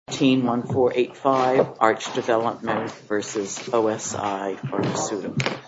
Team 1485, ARCH Development v. OSI Pharmaceuticals Team 1485, ARCH Development v. OSI Pharmaceuticals, LLC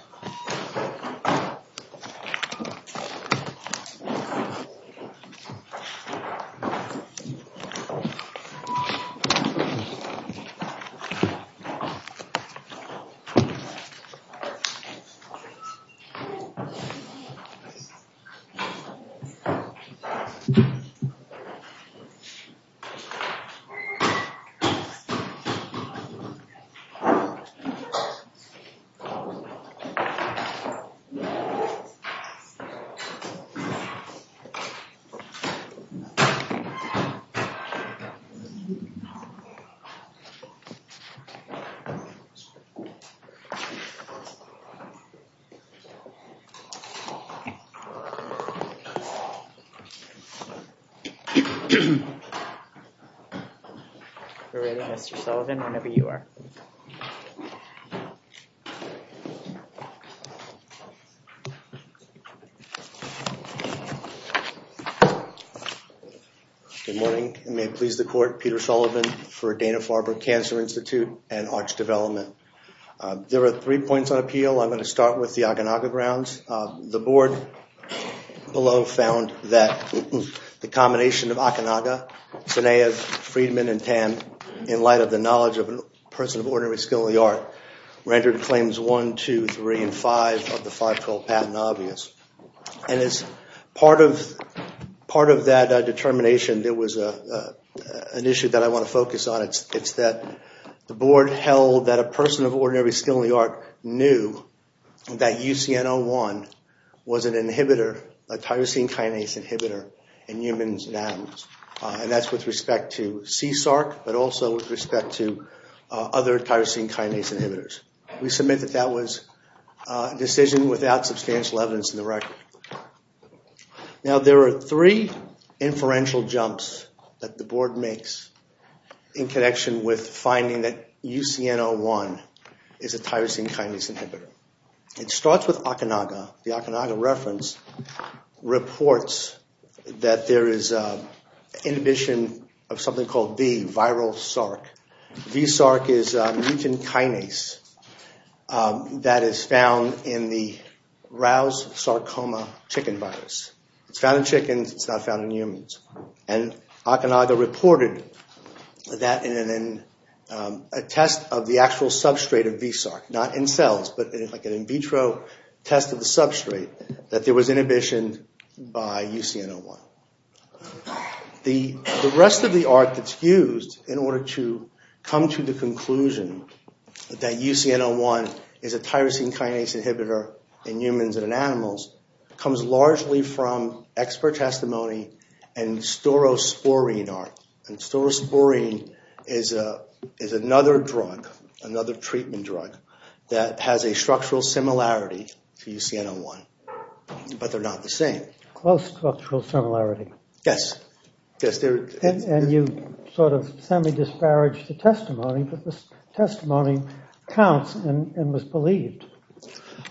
Good morning. May it please the court, Peter Sullivan for Dana-Farber Cancer Institute and ARCH Development. There are three points on appeal. I'm going to start with the Okanagan grounds. The board below found that the combination of Okanagan, Sinev, Friedman, and Tan in light of the knowledge of a person of ordinary skill in the art rendered claims 1, 2, 3, and 5 of the 512 patent obvious. And as part of that determination, there was an issue that I want to focus on. It's that the board held that a person of ordinary skill in the art knew that UCN01 was a tyrosine kinase inhibitor in humans and animals. And that's with respect to CSARC, but also with respect to other tyrosine kinase inhibitors. We submit that that was a decision without substantial evidence in the record. Now there are three inferential jumps that the board makes in connection with finding that UCN01 is a tyrosine kinase inhibitor. It starts with Okanagan. The Okanagan reference reports that there is inhibition of something called V, viral SARC. V-SARC is a mutant kinase that is found in the Rouse sarcoma chicken virus. It's found in chickens. It's not found in humans. And Okanagan reported that in a test of the actual substrate of V-SARC, not in cells, but like an in vitro test of the substrate, that there was inhibition by UCN01. The rest of the art that's used in order to come to the conclusion that UCN01 is a tyrosine kinase inhibitor in humans and in animals comes largely from expert testimony and storosporine art. And storosporine is another drug, another treatment drug, that has a structural similarity to UCN01, but they're not the same. Close structural similarity. Yes. And you sort of semi disparaged the testimony, but the testimony counts and was believed.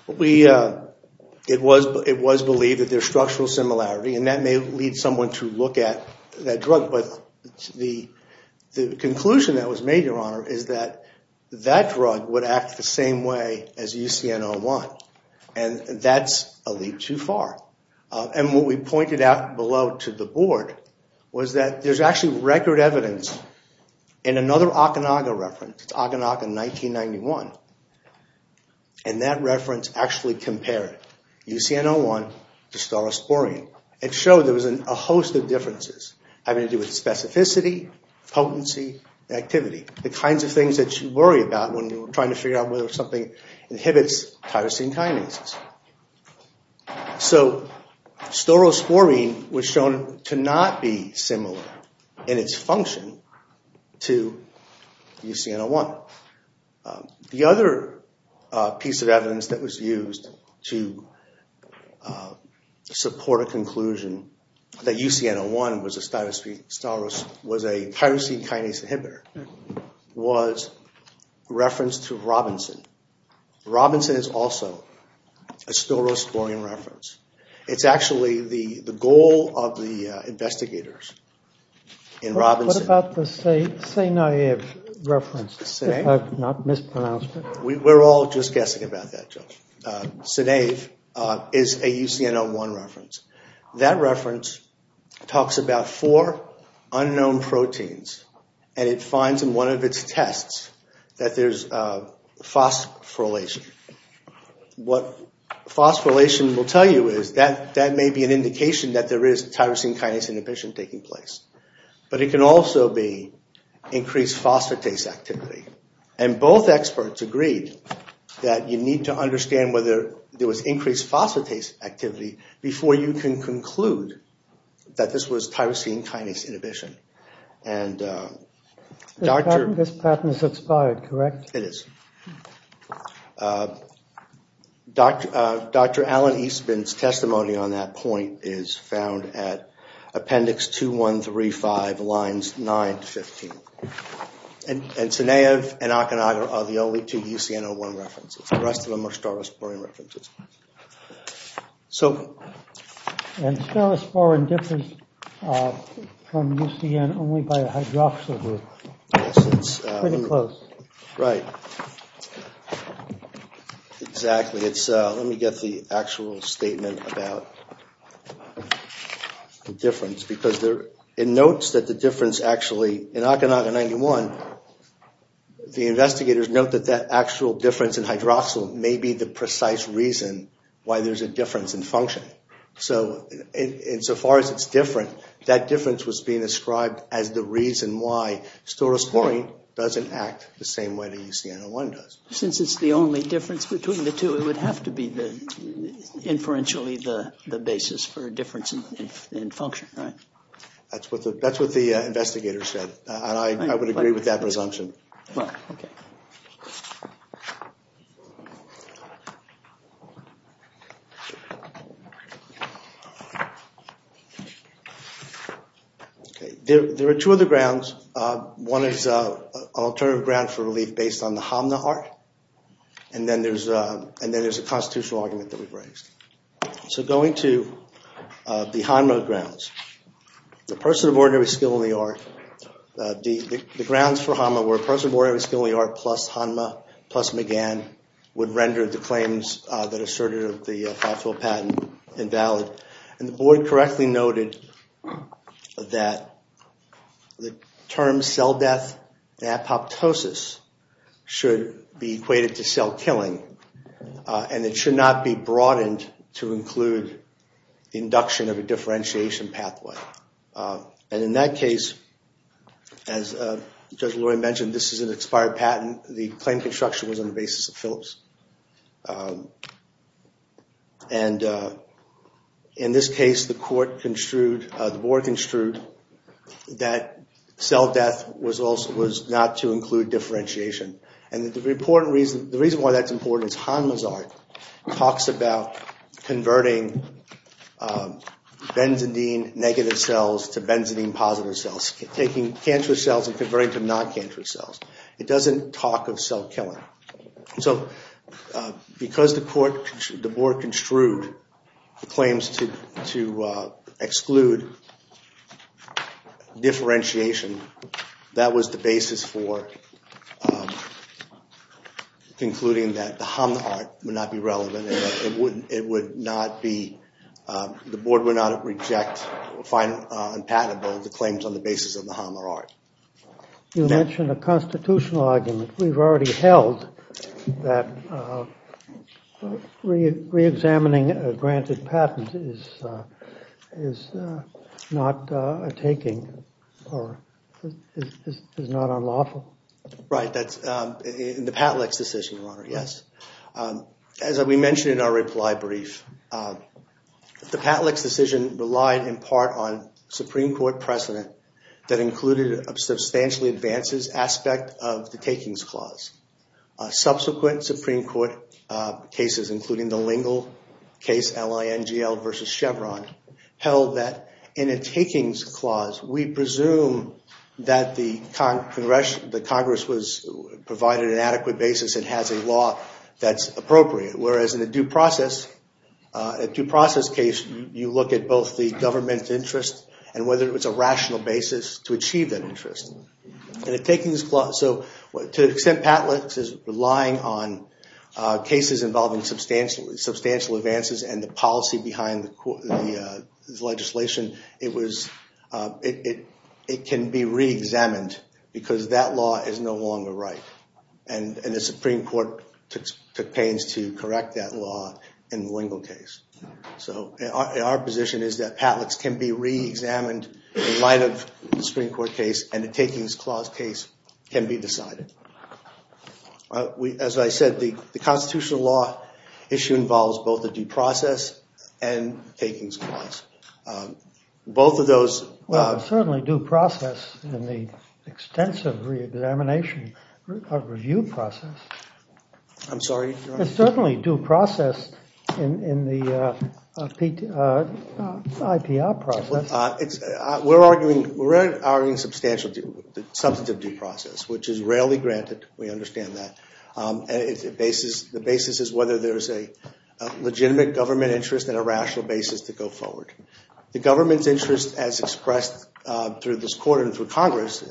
It was believed that there's structural similarity, and that may lead someone to look at that drug. But the conclusion that was made, Your Honor, is that that drug would act the same way as UCN01. And that's a leap too far. And what we pointed out below to the board was that there's actually record evidence in another Okanagan reference. It's Okanagan 1991. And that reference actually compared UCN01 to storosporine. It showed there was a host of differences having to do with specificity, potency, activity, the kinds of things that you worry about when you're trying to figure out whether something inhibits tyrosine kinases. So storosporine was shown to not be similar in its function to UCN01. The other piece of evidence that was used to support a conclusion that UCN01 was a tyrosine kinase inhibitor was reference to Robinson. Robinson is also a storosporine reference. It's actually the goal of the investigators in Robinson. What about the SNAEV reference, if I've not mispronounced it? We're all just guessing about that, Judge. SNAEV is a UCN01 reference. That reference talks about four unknown proteins. And it finds in one of its tests that there's phosphorylation. What phosphorylation will tell you is that that may be an indication that there is tyrosine kinase inhibition taking place. But it can also be increased phosphatase activity. And both experts agreed that you need to understand whether there was increased phosphatase activity before you can conclude that this was tyrosine kinase inhibition. This pattern is expired, correct? It is. Dr. Alan Eastman's testimony on that point is found at appendix 2135, lines 9 to 15. And SNAEV and Akinaga are the only two UCN01 references. The rest of them are storosporine references. And storosporin differs from UCN only by a hydroxyl group. Pretty close. Right. Exactly. Let me get the actual statement about the difference. Because it notes that the difference actually, in Akinaga 91, the investigators note that that actual difference in hydroxyl may be the precise reason why there's a difference in function. Okay. So insofar as it's different, that difference was being ascribed as the reason why storosporine doesn't act the same way that UCN01 does. Since it's the only difference between the two, it would have to be inferentially the basis for a difference in function, right? That's what the investigators said. And I would agree with that presumption. Okay. There are two other grounds. One is an alternative ground for relief based on the Hamna Art. And then there's a constitutional argument that we've raised. So going to the Hamna grounds. The person of ordinary skill in the art. The grounds for Hamna were a person of ordinary skill in the art plus Hamna plus McGann would render the claims that asserted of the Fafel patent invalid. And the board correctly noted that the term cell death and apoptosis should be equated to cell killing. And it should not be broadened to include induction of a differentiation pathway. And in that case, as Judge Lori mentioned, this is an expired patent. The claim construction was on the basis of Phillips. And in this case, the board construed that cell death was not to include differentiation. And the reason why that's important is Hamna's art talks about converting benzidine negative cells to benzidine positive cells. Taking cancerous cells and converting them to non-cancerous cells. It doesn't talk of cell killing. So because the board construed the claims to exclude differentiation, that was the basis for concluding that the Hamna art would not be relevant. And the board would not reject or find unpatentable the claims on the basis of the Hamna art. You mentioned a constitutional argument. We've already held that reexamining a granted patent is not a taking or is not unlawful. Right. That's in the Patlick's decision, Your Honor. Yes. As we mentioned in our reply brief, the Patlick's decision relied in part on Supreme Court precedent that included a substantially advanced aspect of the takings clause. Subsequent Supreme Court cases, including the Lingle case, L-I-N-G-L versus Chevron, held that in a takings clause, we presume that the Congress provided an adequate basis and has a law that's appropriate. Whereas in a due process case, you look at both the government's interest and whether it was a rational basis to achieve that interest. To the extent Patlick's is relying on cases involving substantial advances and the policy behind the legislation, it can be reexamined because that law is no longer right. And the Supreme Court took pains to correct that law in the Lingle case. So our position is that Patlick's can be reexamined in light of the Supreme Court case and the takings clause case can be decided. As I said, the constitutional law issue involves both the due process and takings clause. Both of those... Well, it's certainly due process in the extensive reexamination of review process. I'm sorry, Your Honor. It's certainly due process in the IPR process. We're arguing substantial substantive due process, which is rarely granted. We understand that. The basis is whether there is a legitimate government interest and a rational basis to go forward. The government's interest as expressed through this court and through Congress,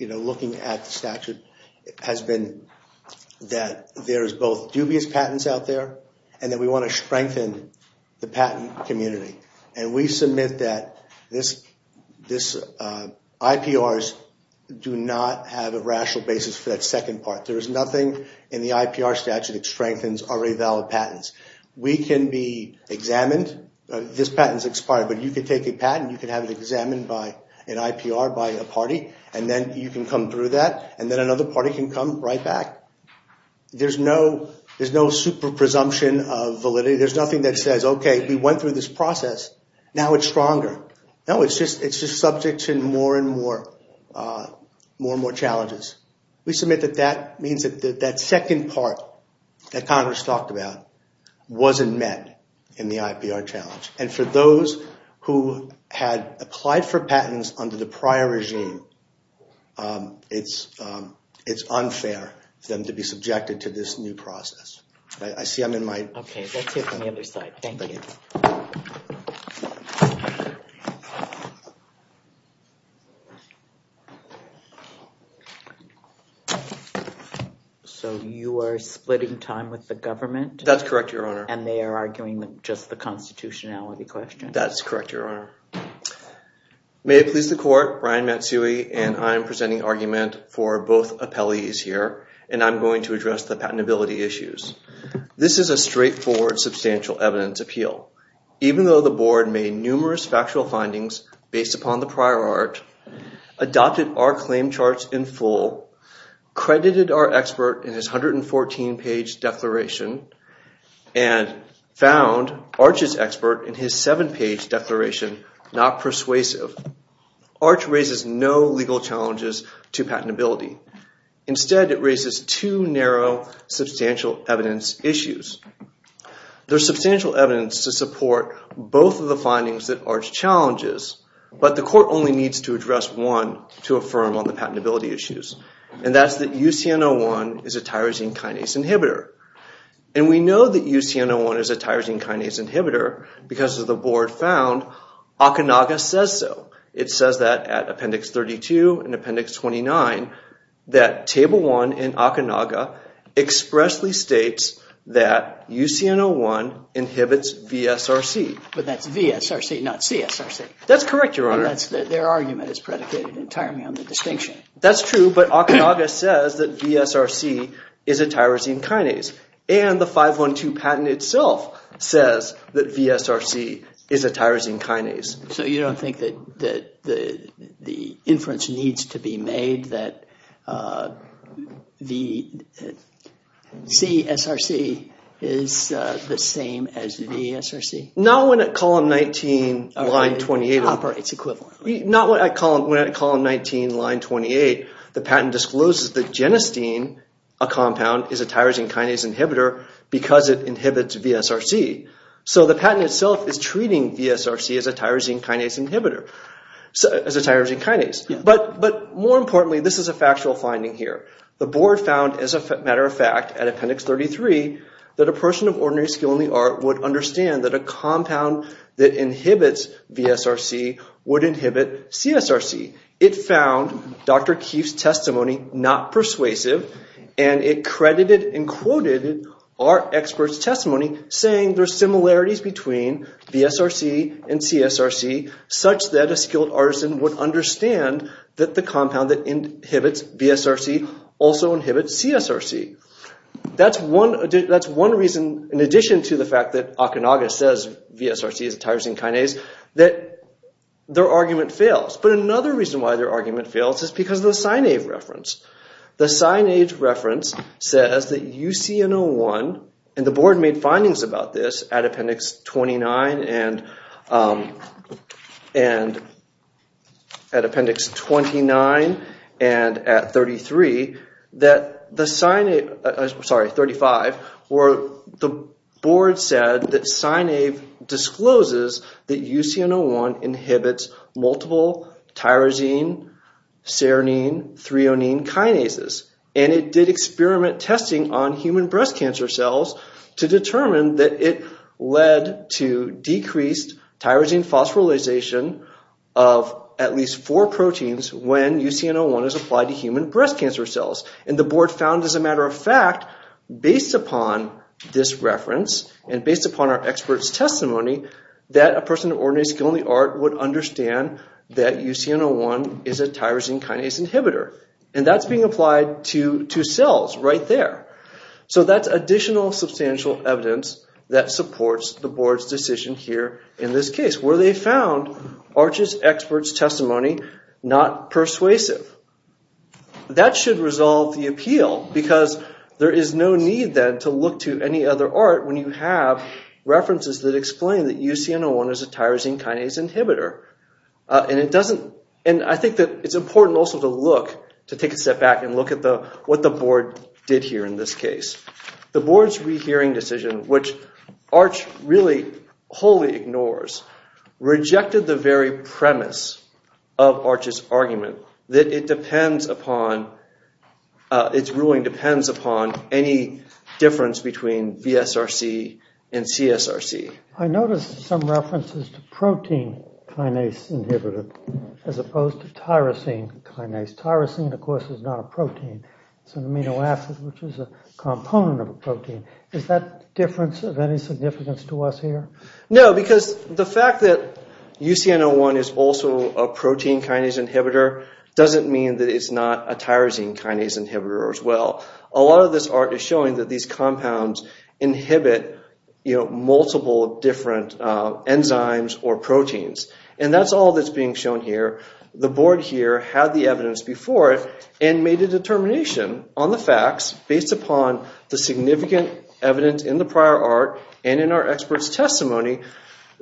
looking at the statute, has been that there is both dubious patents out there and that we want to strengthen the patent community. And we submit that IPRs do not have a rational basis for that second part. There is nothing in the IPR statute that strengthens already valid patents. We can be examined. This patent's expired, but you can take a patent. You can have it examined in IPR by a party, and then you can come through that, and then another party can come right back. There's no super presumption of validity. There's nothing that says, okay, we went through this process. Now it's stronger. No, it's just subject to more and more challenges. We submit that that means that that second part that Congress talked about wasn't met in the IPR challenge. And for those who had applied for patents under the prior regime, it's unfair for them to be subjected to this new process. I see I'm in my— Okay, let's hear from the other side. Thank you. So you are splitting time with the government? That's correct, Your Honor. And they are arguing just the constitutionality question? That's correct, Your Honor. May it please the court, Brian Matsui, and I am presenting argument for both appellees here, and I'm going to address the patentability issues. This is a straightforward substantial evidence appeal. Even though the board made numerous factual findings based upon the prior art, adopted our claim charts in full, credited our expert in his 114-page declaration, and found Arch's expert in his seven-page declaration not persuasive, Arch raises no legal challenges to patentability. Instead, it raises two narrow substantial evidence issues. There's substantial evidence to support both of the findings that Arch challenges, but the court only needs to address one to affirm on the patentability issues, and that's that UCN01 is a tyrosine kinase inhibitor. And we know that UCN01 is a tyrosine kinase inhibitor because, as the board found, Okanaga says so. It says that at Appendix 32 and Appendix 29, that Table 1 in Okanaga expressly states that UCN01 inhibits VSRC. But that's VSRC, not CSRC. That's correct, Your Honor. Their argument is predicated entirely on the distinction. That's true, but Okanaga says that VSRC is a tyrosine kinase, and the 512 patent itself says that VSRC is a tyrosine kinase. So you don't think that the inference needs to be made that CSRC is the same as VSRC? Not when at Column 19, Line 28, the patent discloses that genistein, a compound, is a tyrosine kinase inhibitor because it inhibits VSRC. So the patent itself is treating VSRC as a tyrosine kinase inhibitor, as a tyrosine kinase. But more importantly, this is a factual finding here. The board found, as a matter of fact, at Appendix 33, that a person of ordinary skill in the art would understand that a compound that inhibits VSRC would inhibit CSRC. It found Dr. Keefe's testimony not persuasive, and it credited and quoted our expert's testimony, saying there are similarities between VSRC and CSRC, such that a skilled artisan would understand that the compound that inhibits VSRC also inhibits CSRC. That's one reason, in addition to the fact that Okanaga says VSRC is a tyrosine kinase, that their argument fails. But another reason why their argument fails is because of the Sine-Ave reference. The Sine-Ave reference says that UCN01, and the board made findings about this at Appendix 29 and at 33, that the Sine-Ave, sorry, 35, where the board said that Sine-Ave discloses that UCN01 inhibits multiple tyrosine, serine, threonine kinases. And it did experiment testing on human breast cancer cells to determine that it led to decreased tyrosine phosphorylation of at least four proteins when UCN01 is applied to human breast cancer cells. And the board found, as a matter of fact, based upon this reference, and based upon our expert's testimony, that a person of ordinary skill in the art would understand that UCN01 is a tyrosine kinase inhibitor. And that's being applied to cells right there. So that's additional substantial evidence that supports the board's decision here in this case, where they found Arches' expert's testimony not persuasive. That should resolve the appeal because there is no need then to look to any other art when you have references that explain that UCN01 is a tyrosine kinase inhibitor. And I think that it's important also to take a step back and look at what the board did here in this case. The board's rehearing decision, which Arches really wholly ignores, rejected the very premise of Arches' argument that its ruling depends upon any difference between VSRC and CSRC. I noticed some references to protein kinase inhibitor as opposed to tyrosine kinase. Tyrosine, of course, is not a protein. It's an amino acid, which is a component of a protein. Is that difference of any significance to us here? No, because the fact that UCN01 is also a protein kinase inhibitor doesn't mean that it's not a tyrosine kinase inhibitor as well. A lot of this art is showing that these compounds inhibit multiple different enzymes or proteins. And that's all that's being shown here. The board here had the evidence before it and made a determination on the facts based upon the significant evidence in the prior art and in our expert's testimony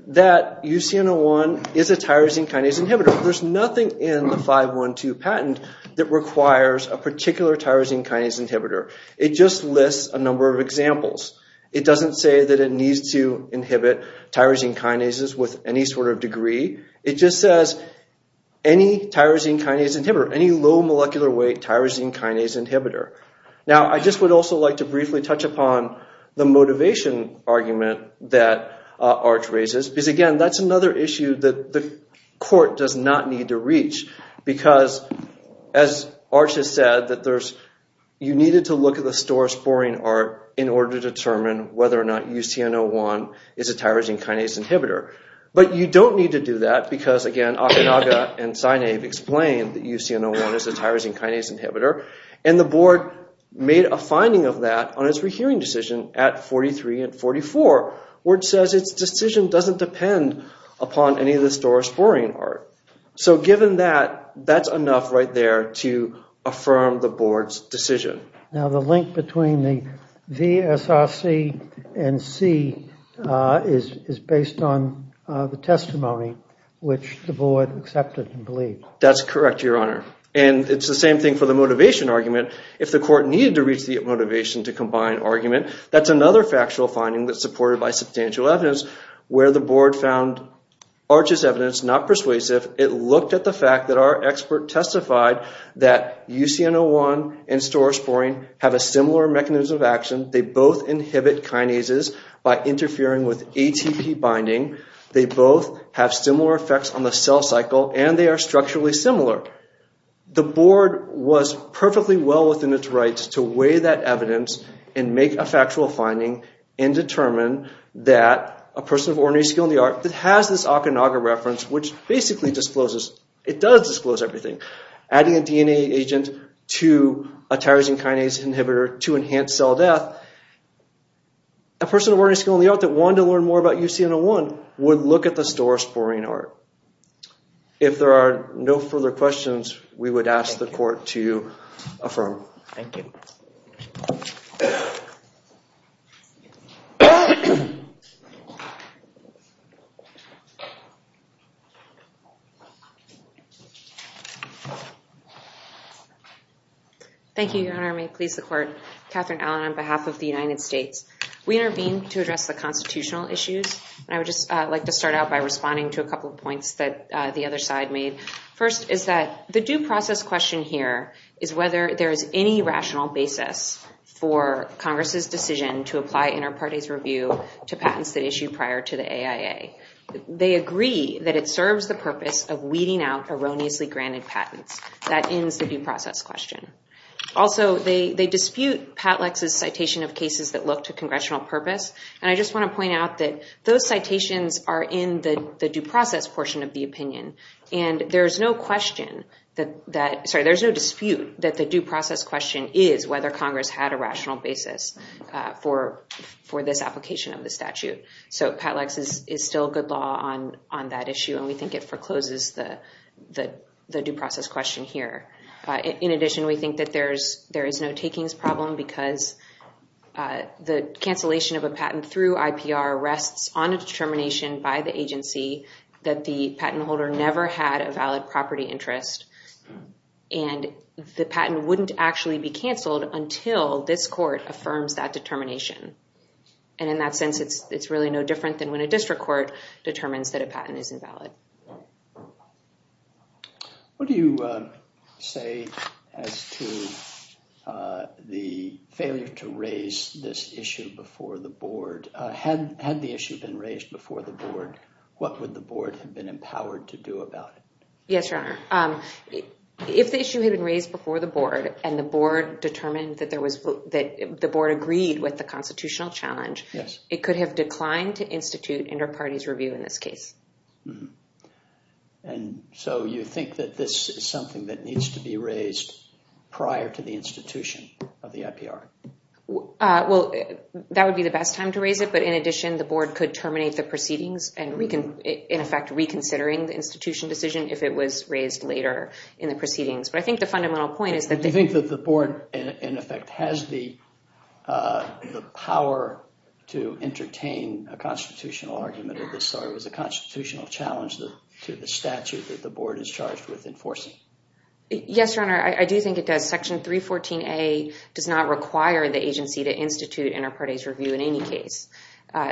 that UCN01 is a tyrosine kinase inhibitor. There's nothing in the 512 patent that requires a particular tyrosine kinase inhibitor. It just lists a number of examples. It doesn't say that it needs to inhibit tyrosine kinases with any sort of degree. It just says any tyrosine kinase inhibitor, any low molecular weight tyrosine kinase inhibitor. Now, I just would also like to briefly touch upon the motivation argument that Arch raises. Because, again, that's another issue that the court does not need to reach. Because, as Arch has said, you needed to look at the store's boring art in order to determine whether or not UCN01 is a tyrosine kinase inhibitor. But you don't need to do that because, again, Okanaga and Sineave explained that UCN01 is a tyrosine kinase inhibitor. And the board made a finding of that on its rehearing decision at 43 and 44 where it says its decision doesn't depend upon any of the store's boring art. So, given that, that's enough right there to affirm the board's decision. Now, the link between the VSRC and C is based on the testimony which the board accepted and believed. That's correct, Your Honor. And it's the same thing for the motivation argument. If the court needed to reach the motivation to combine argument, that's another factual finding that's supported by substantial evidence where the board found Arch's evidence not persuasive. It looked at the fact that our expert testified that UCN01 and store's boring have a similar mechanism of action. They both inhibit kinases by interfering with ATP binding. They both have similar effects on the cell cycle and they are structurally similar. The board was perfectly well within its rights to weigh that evidence and make a factual finding and determine that a person of ordinary skill in the art that has this Okanaga reference, which basically discloses, it does disclose everything, adding a DNA agent to a tyrosine kinase inhibitor to enhance cell death. A person of ordinary skill in the art that wanted to learn more about UCN01 would look at the store's boring art. If there are no further questions, we would ask the court to affirm. Thank you. Thank you, Your Honor. May it please the court. Catherine Allen on behalf of the United States. We intervene to address the constitutional issues. And I would just like to start out by responding to a couple of points that the other side made. First is that the due process question here is whether there is any rational basis for Congress's decision to apply inter parties review to patents that issue prior to the AIA. They agree that it serves the purpose of weeding out erroneously granted patents. That ends the due process question. Also, they dispute Pat Lex's citation of cases that look to congressional purpose. And I just want to point out that those citations are in the due process portion of the opinion. And there is no question that, sorry, there's no dispute that the due process question is whether Congress had a rational basis for this application of the statute. So Pat Lex is still good law on that issue. And we think it forecloses the due process question here. In addition, we think that there is no takings problem because the cancellation of a patent through IPR rests on a determination by the agency that the patent holder never had a valid property interest. And the patent wouldn't actually be canceled until this court affirms that determination. And in that sense, it's really no different than when a district court determines that a patent is invalid. What do you say as to the failure to raise this issue before the board? Had the issue been raised before the board, what would the board have been empowered to do about it? Yes, Your Honor. If the issue had been raised before the board and the board determined that the board agreed with the constitutional challenge, it could have declined to institute inter-parties review in this case. And so you think that this is something that needs to be raised prior to the institution of the IPR? Well, that would be the best time to raise it. But in addition, the board could terminate the proceedings and, in effect, reconsidering the institution decision if it was raised later in the proceedings. Do you think that the board, in effect, has the power to entertain a constitutional argument of this sort? It was a constitutional challenge to the statute that the board is charged with enforcing. Yes, Your Honor. I do think it does. Section 314A does not require the agency to institute inter-parties review in any case.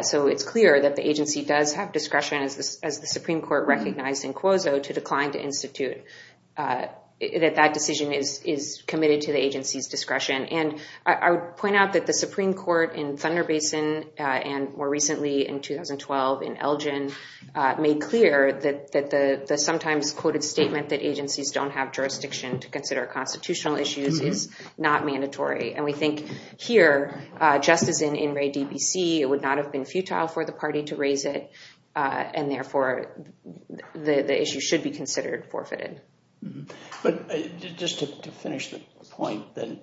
So it's clear that the agency does have discretion, as the Supreme Court recognized in Quozo, to decline to institute. That decision is committed to the agency's discretion. And I would point out that the Supreme Court in Thunder Basin and, more recently, in 2012 in Elgin, made clear that the sometimes quoted statement that agencies don't have jurisdiction to consider constitutional issues is not mandatory. And we think here, just as in In re DBC, it would not have been futile for the party to raise it and, therefore, the issue should be considered forfeited. But just to finish the point, then,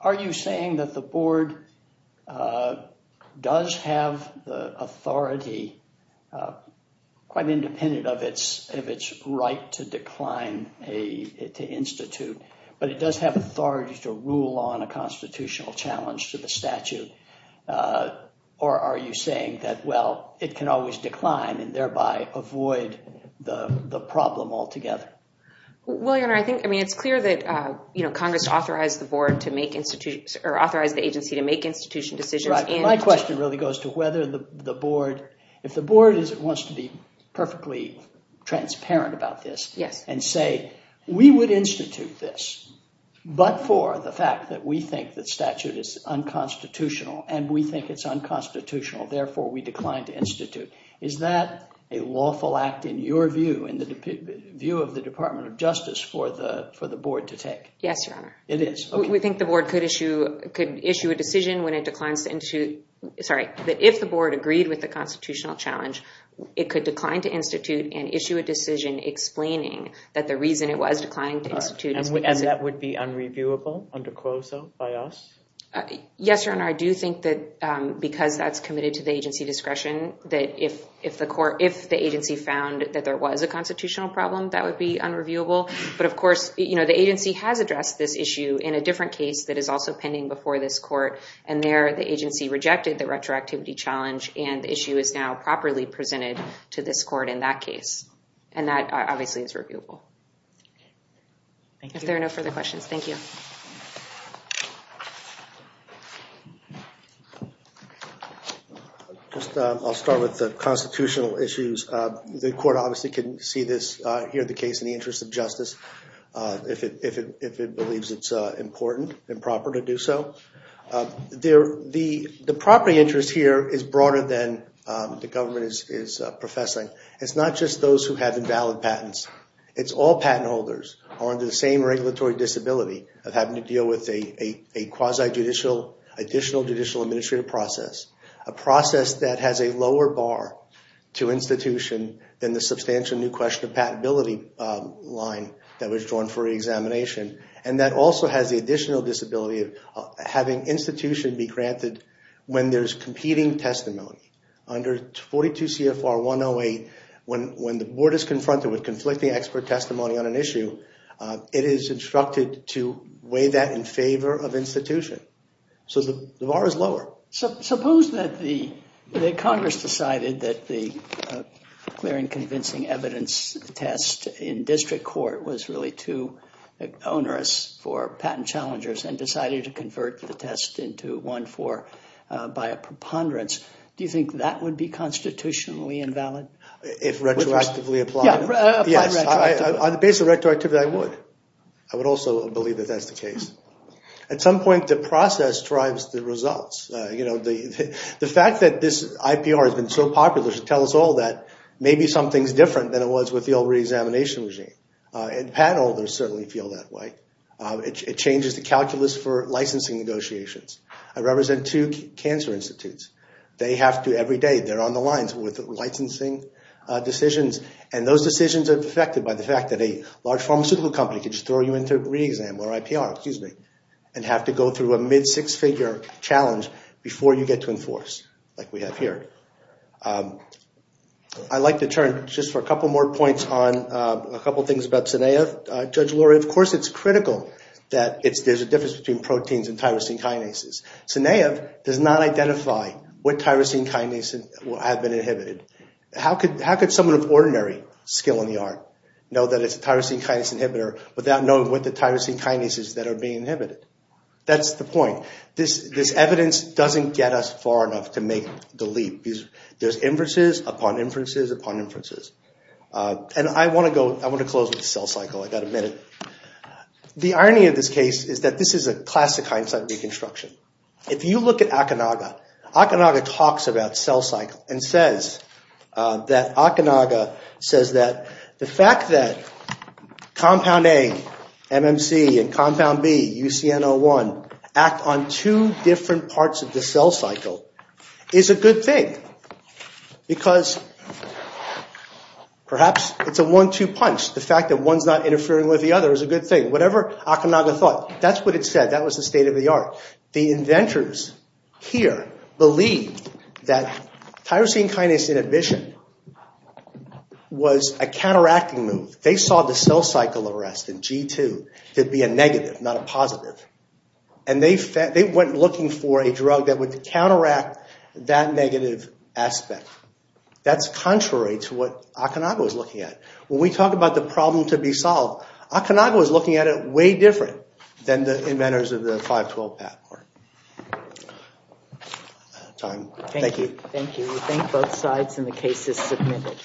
are you saying that the board does have the authority, quite independent of its right to decline to institute, but it does have authority to rule on a constitutional challenge to the statute? Or are you saying that, well, it can always decline and, thereby, avoid the problem altogether? Well, Your Honor, I think, I mean, it's clear that Congress authorized the agency to make institution decisions. My question really goes to whether the board, if the board wants to be perfectly transparent about this and say, we would institute this, but for the fact that we think that statute is unconstitutional and we think it's unconstitutional, therefore, we decline to institute. Is that a lawful act, in your view, in the view of the Department of Justice, for the board to take? Yes, Your Honor. It is? We think the board could issue a decision when it declines to institute, sorry, that if the board agreed with the constitutional challenge, it could decline to institute and issue a decision explaining that the reason it was declining to institute is because... And that would be unreviewable under CROSA by us? Yes, Your Honor, I do think that because that's committed to the agency discretion, that if the agency found that there was a constitutional problem, that would be unreviewable. But, of course, the agency has addressed this issue in a different case that is also pending before this court. And there, the agency rejected the retroactivity challenge, and the issue is now properly presented to this court in that case. And that, obviously, is reviewable. If there are no further questions, thank you. I'll start with the constitutional issues. The court obviously can see this here, the case in the interest of justice, if it believes it's important and proper to do so. The property interest here is broader than the government is professing. It's not just those who have invalid patents. It's all patent holders on the same regulatory disability of having to deal with a quasi-judicial, additional judicial administrative process. A process that has a lower bar to institution than the substantial new question of patentability line that was drawn for examination. And that also has the additional disability of having institution be granted when there's competing testimony. Under 42 CFR 108, when the board is confronted with conflicting expert testimony on an issue, it is instructed to weigh that in favor of institution. So the bar is lower. Suppose that Congress decided that the clearing convincing evidence test in district court was really too onerous for patent challengers and decided to convert the test into one by a preponderance. Do you think that would be constitutionally invalid? If retroactively applied? Yes, on the basis of retroactivity, I would. I would also believe that that's the case. At some point, the process drives the results. The fact that this IPR has been so popular should tell us all that maybe something's different than it was with the old re-examination regime. And patent holders certainly feel that way. It changes the calculus for licensing negotiations. I represent two cancer institutes. Every day, they're on the lines with licensing decisions. And those decisions are affected by the fact that a large pharmaceutical company can just throw you into re-exam or IPR and have to go through a mid-six-figure challenge before you get to enforce, like we have here. I'd like to turn just for a couple more points on a couple things about SINEA. Of course, it's critical that there's a difference between proteins and tyrosine kinases. SINEA does not identify what tyrosine kinases have been inhibited. How could someone of ordinary skill in the art know that it's a tyrosine kinase inhibitor without knowing what the tyrosine kinases that are being inhibited? That's the point. This evidence doesn't get us far enough to make the leap. There's inferences upon inferences upon inferences. And I want to close with the cell cycle. I've got a minute. The irony of this case is that this is a classic hindsight reconstruction. If you look at Akinaga, Akinaga talks about cell cycle and says that Akinaga says that the fact that compound A, MMC, and compound B, UCN01, act on two different parts of the cell cycle is a good thing because perhaps it's a one-two punch. The fact that one's not interfering with the other is a good thing. Whatever Akinaga thought, that's what it said. That was the state of the art. The inventors here believed that tyrosine kinase inhibition was a counteracting move. They saw the cell cycle arrest in G2 to be a negative, not a positive. And they went looking for a drug that would counteract that negative aspect. That's contrary to what Akinaga was looking at. When we talk about the problem to be solved, Akinaga was looking at it way different than the inventors of the 512 PAC part. Thank you. We thank both sides and the case is submitted.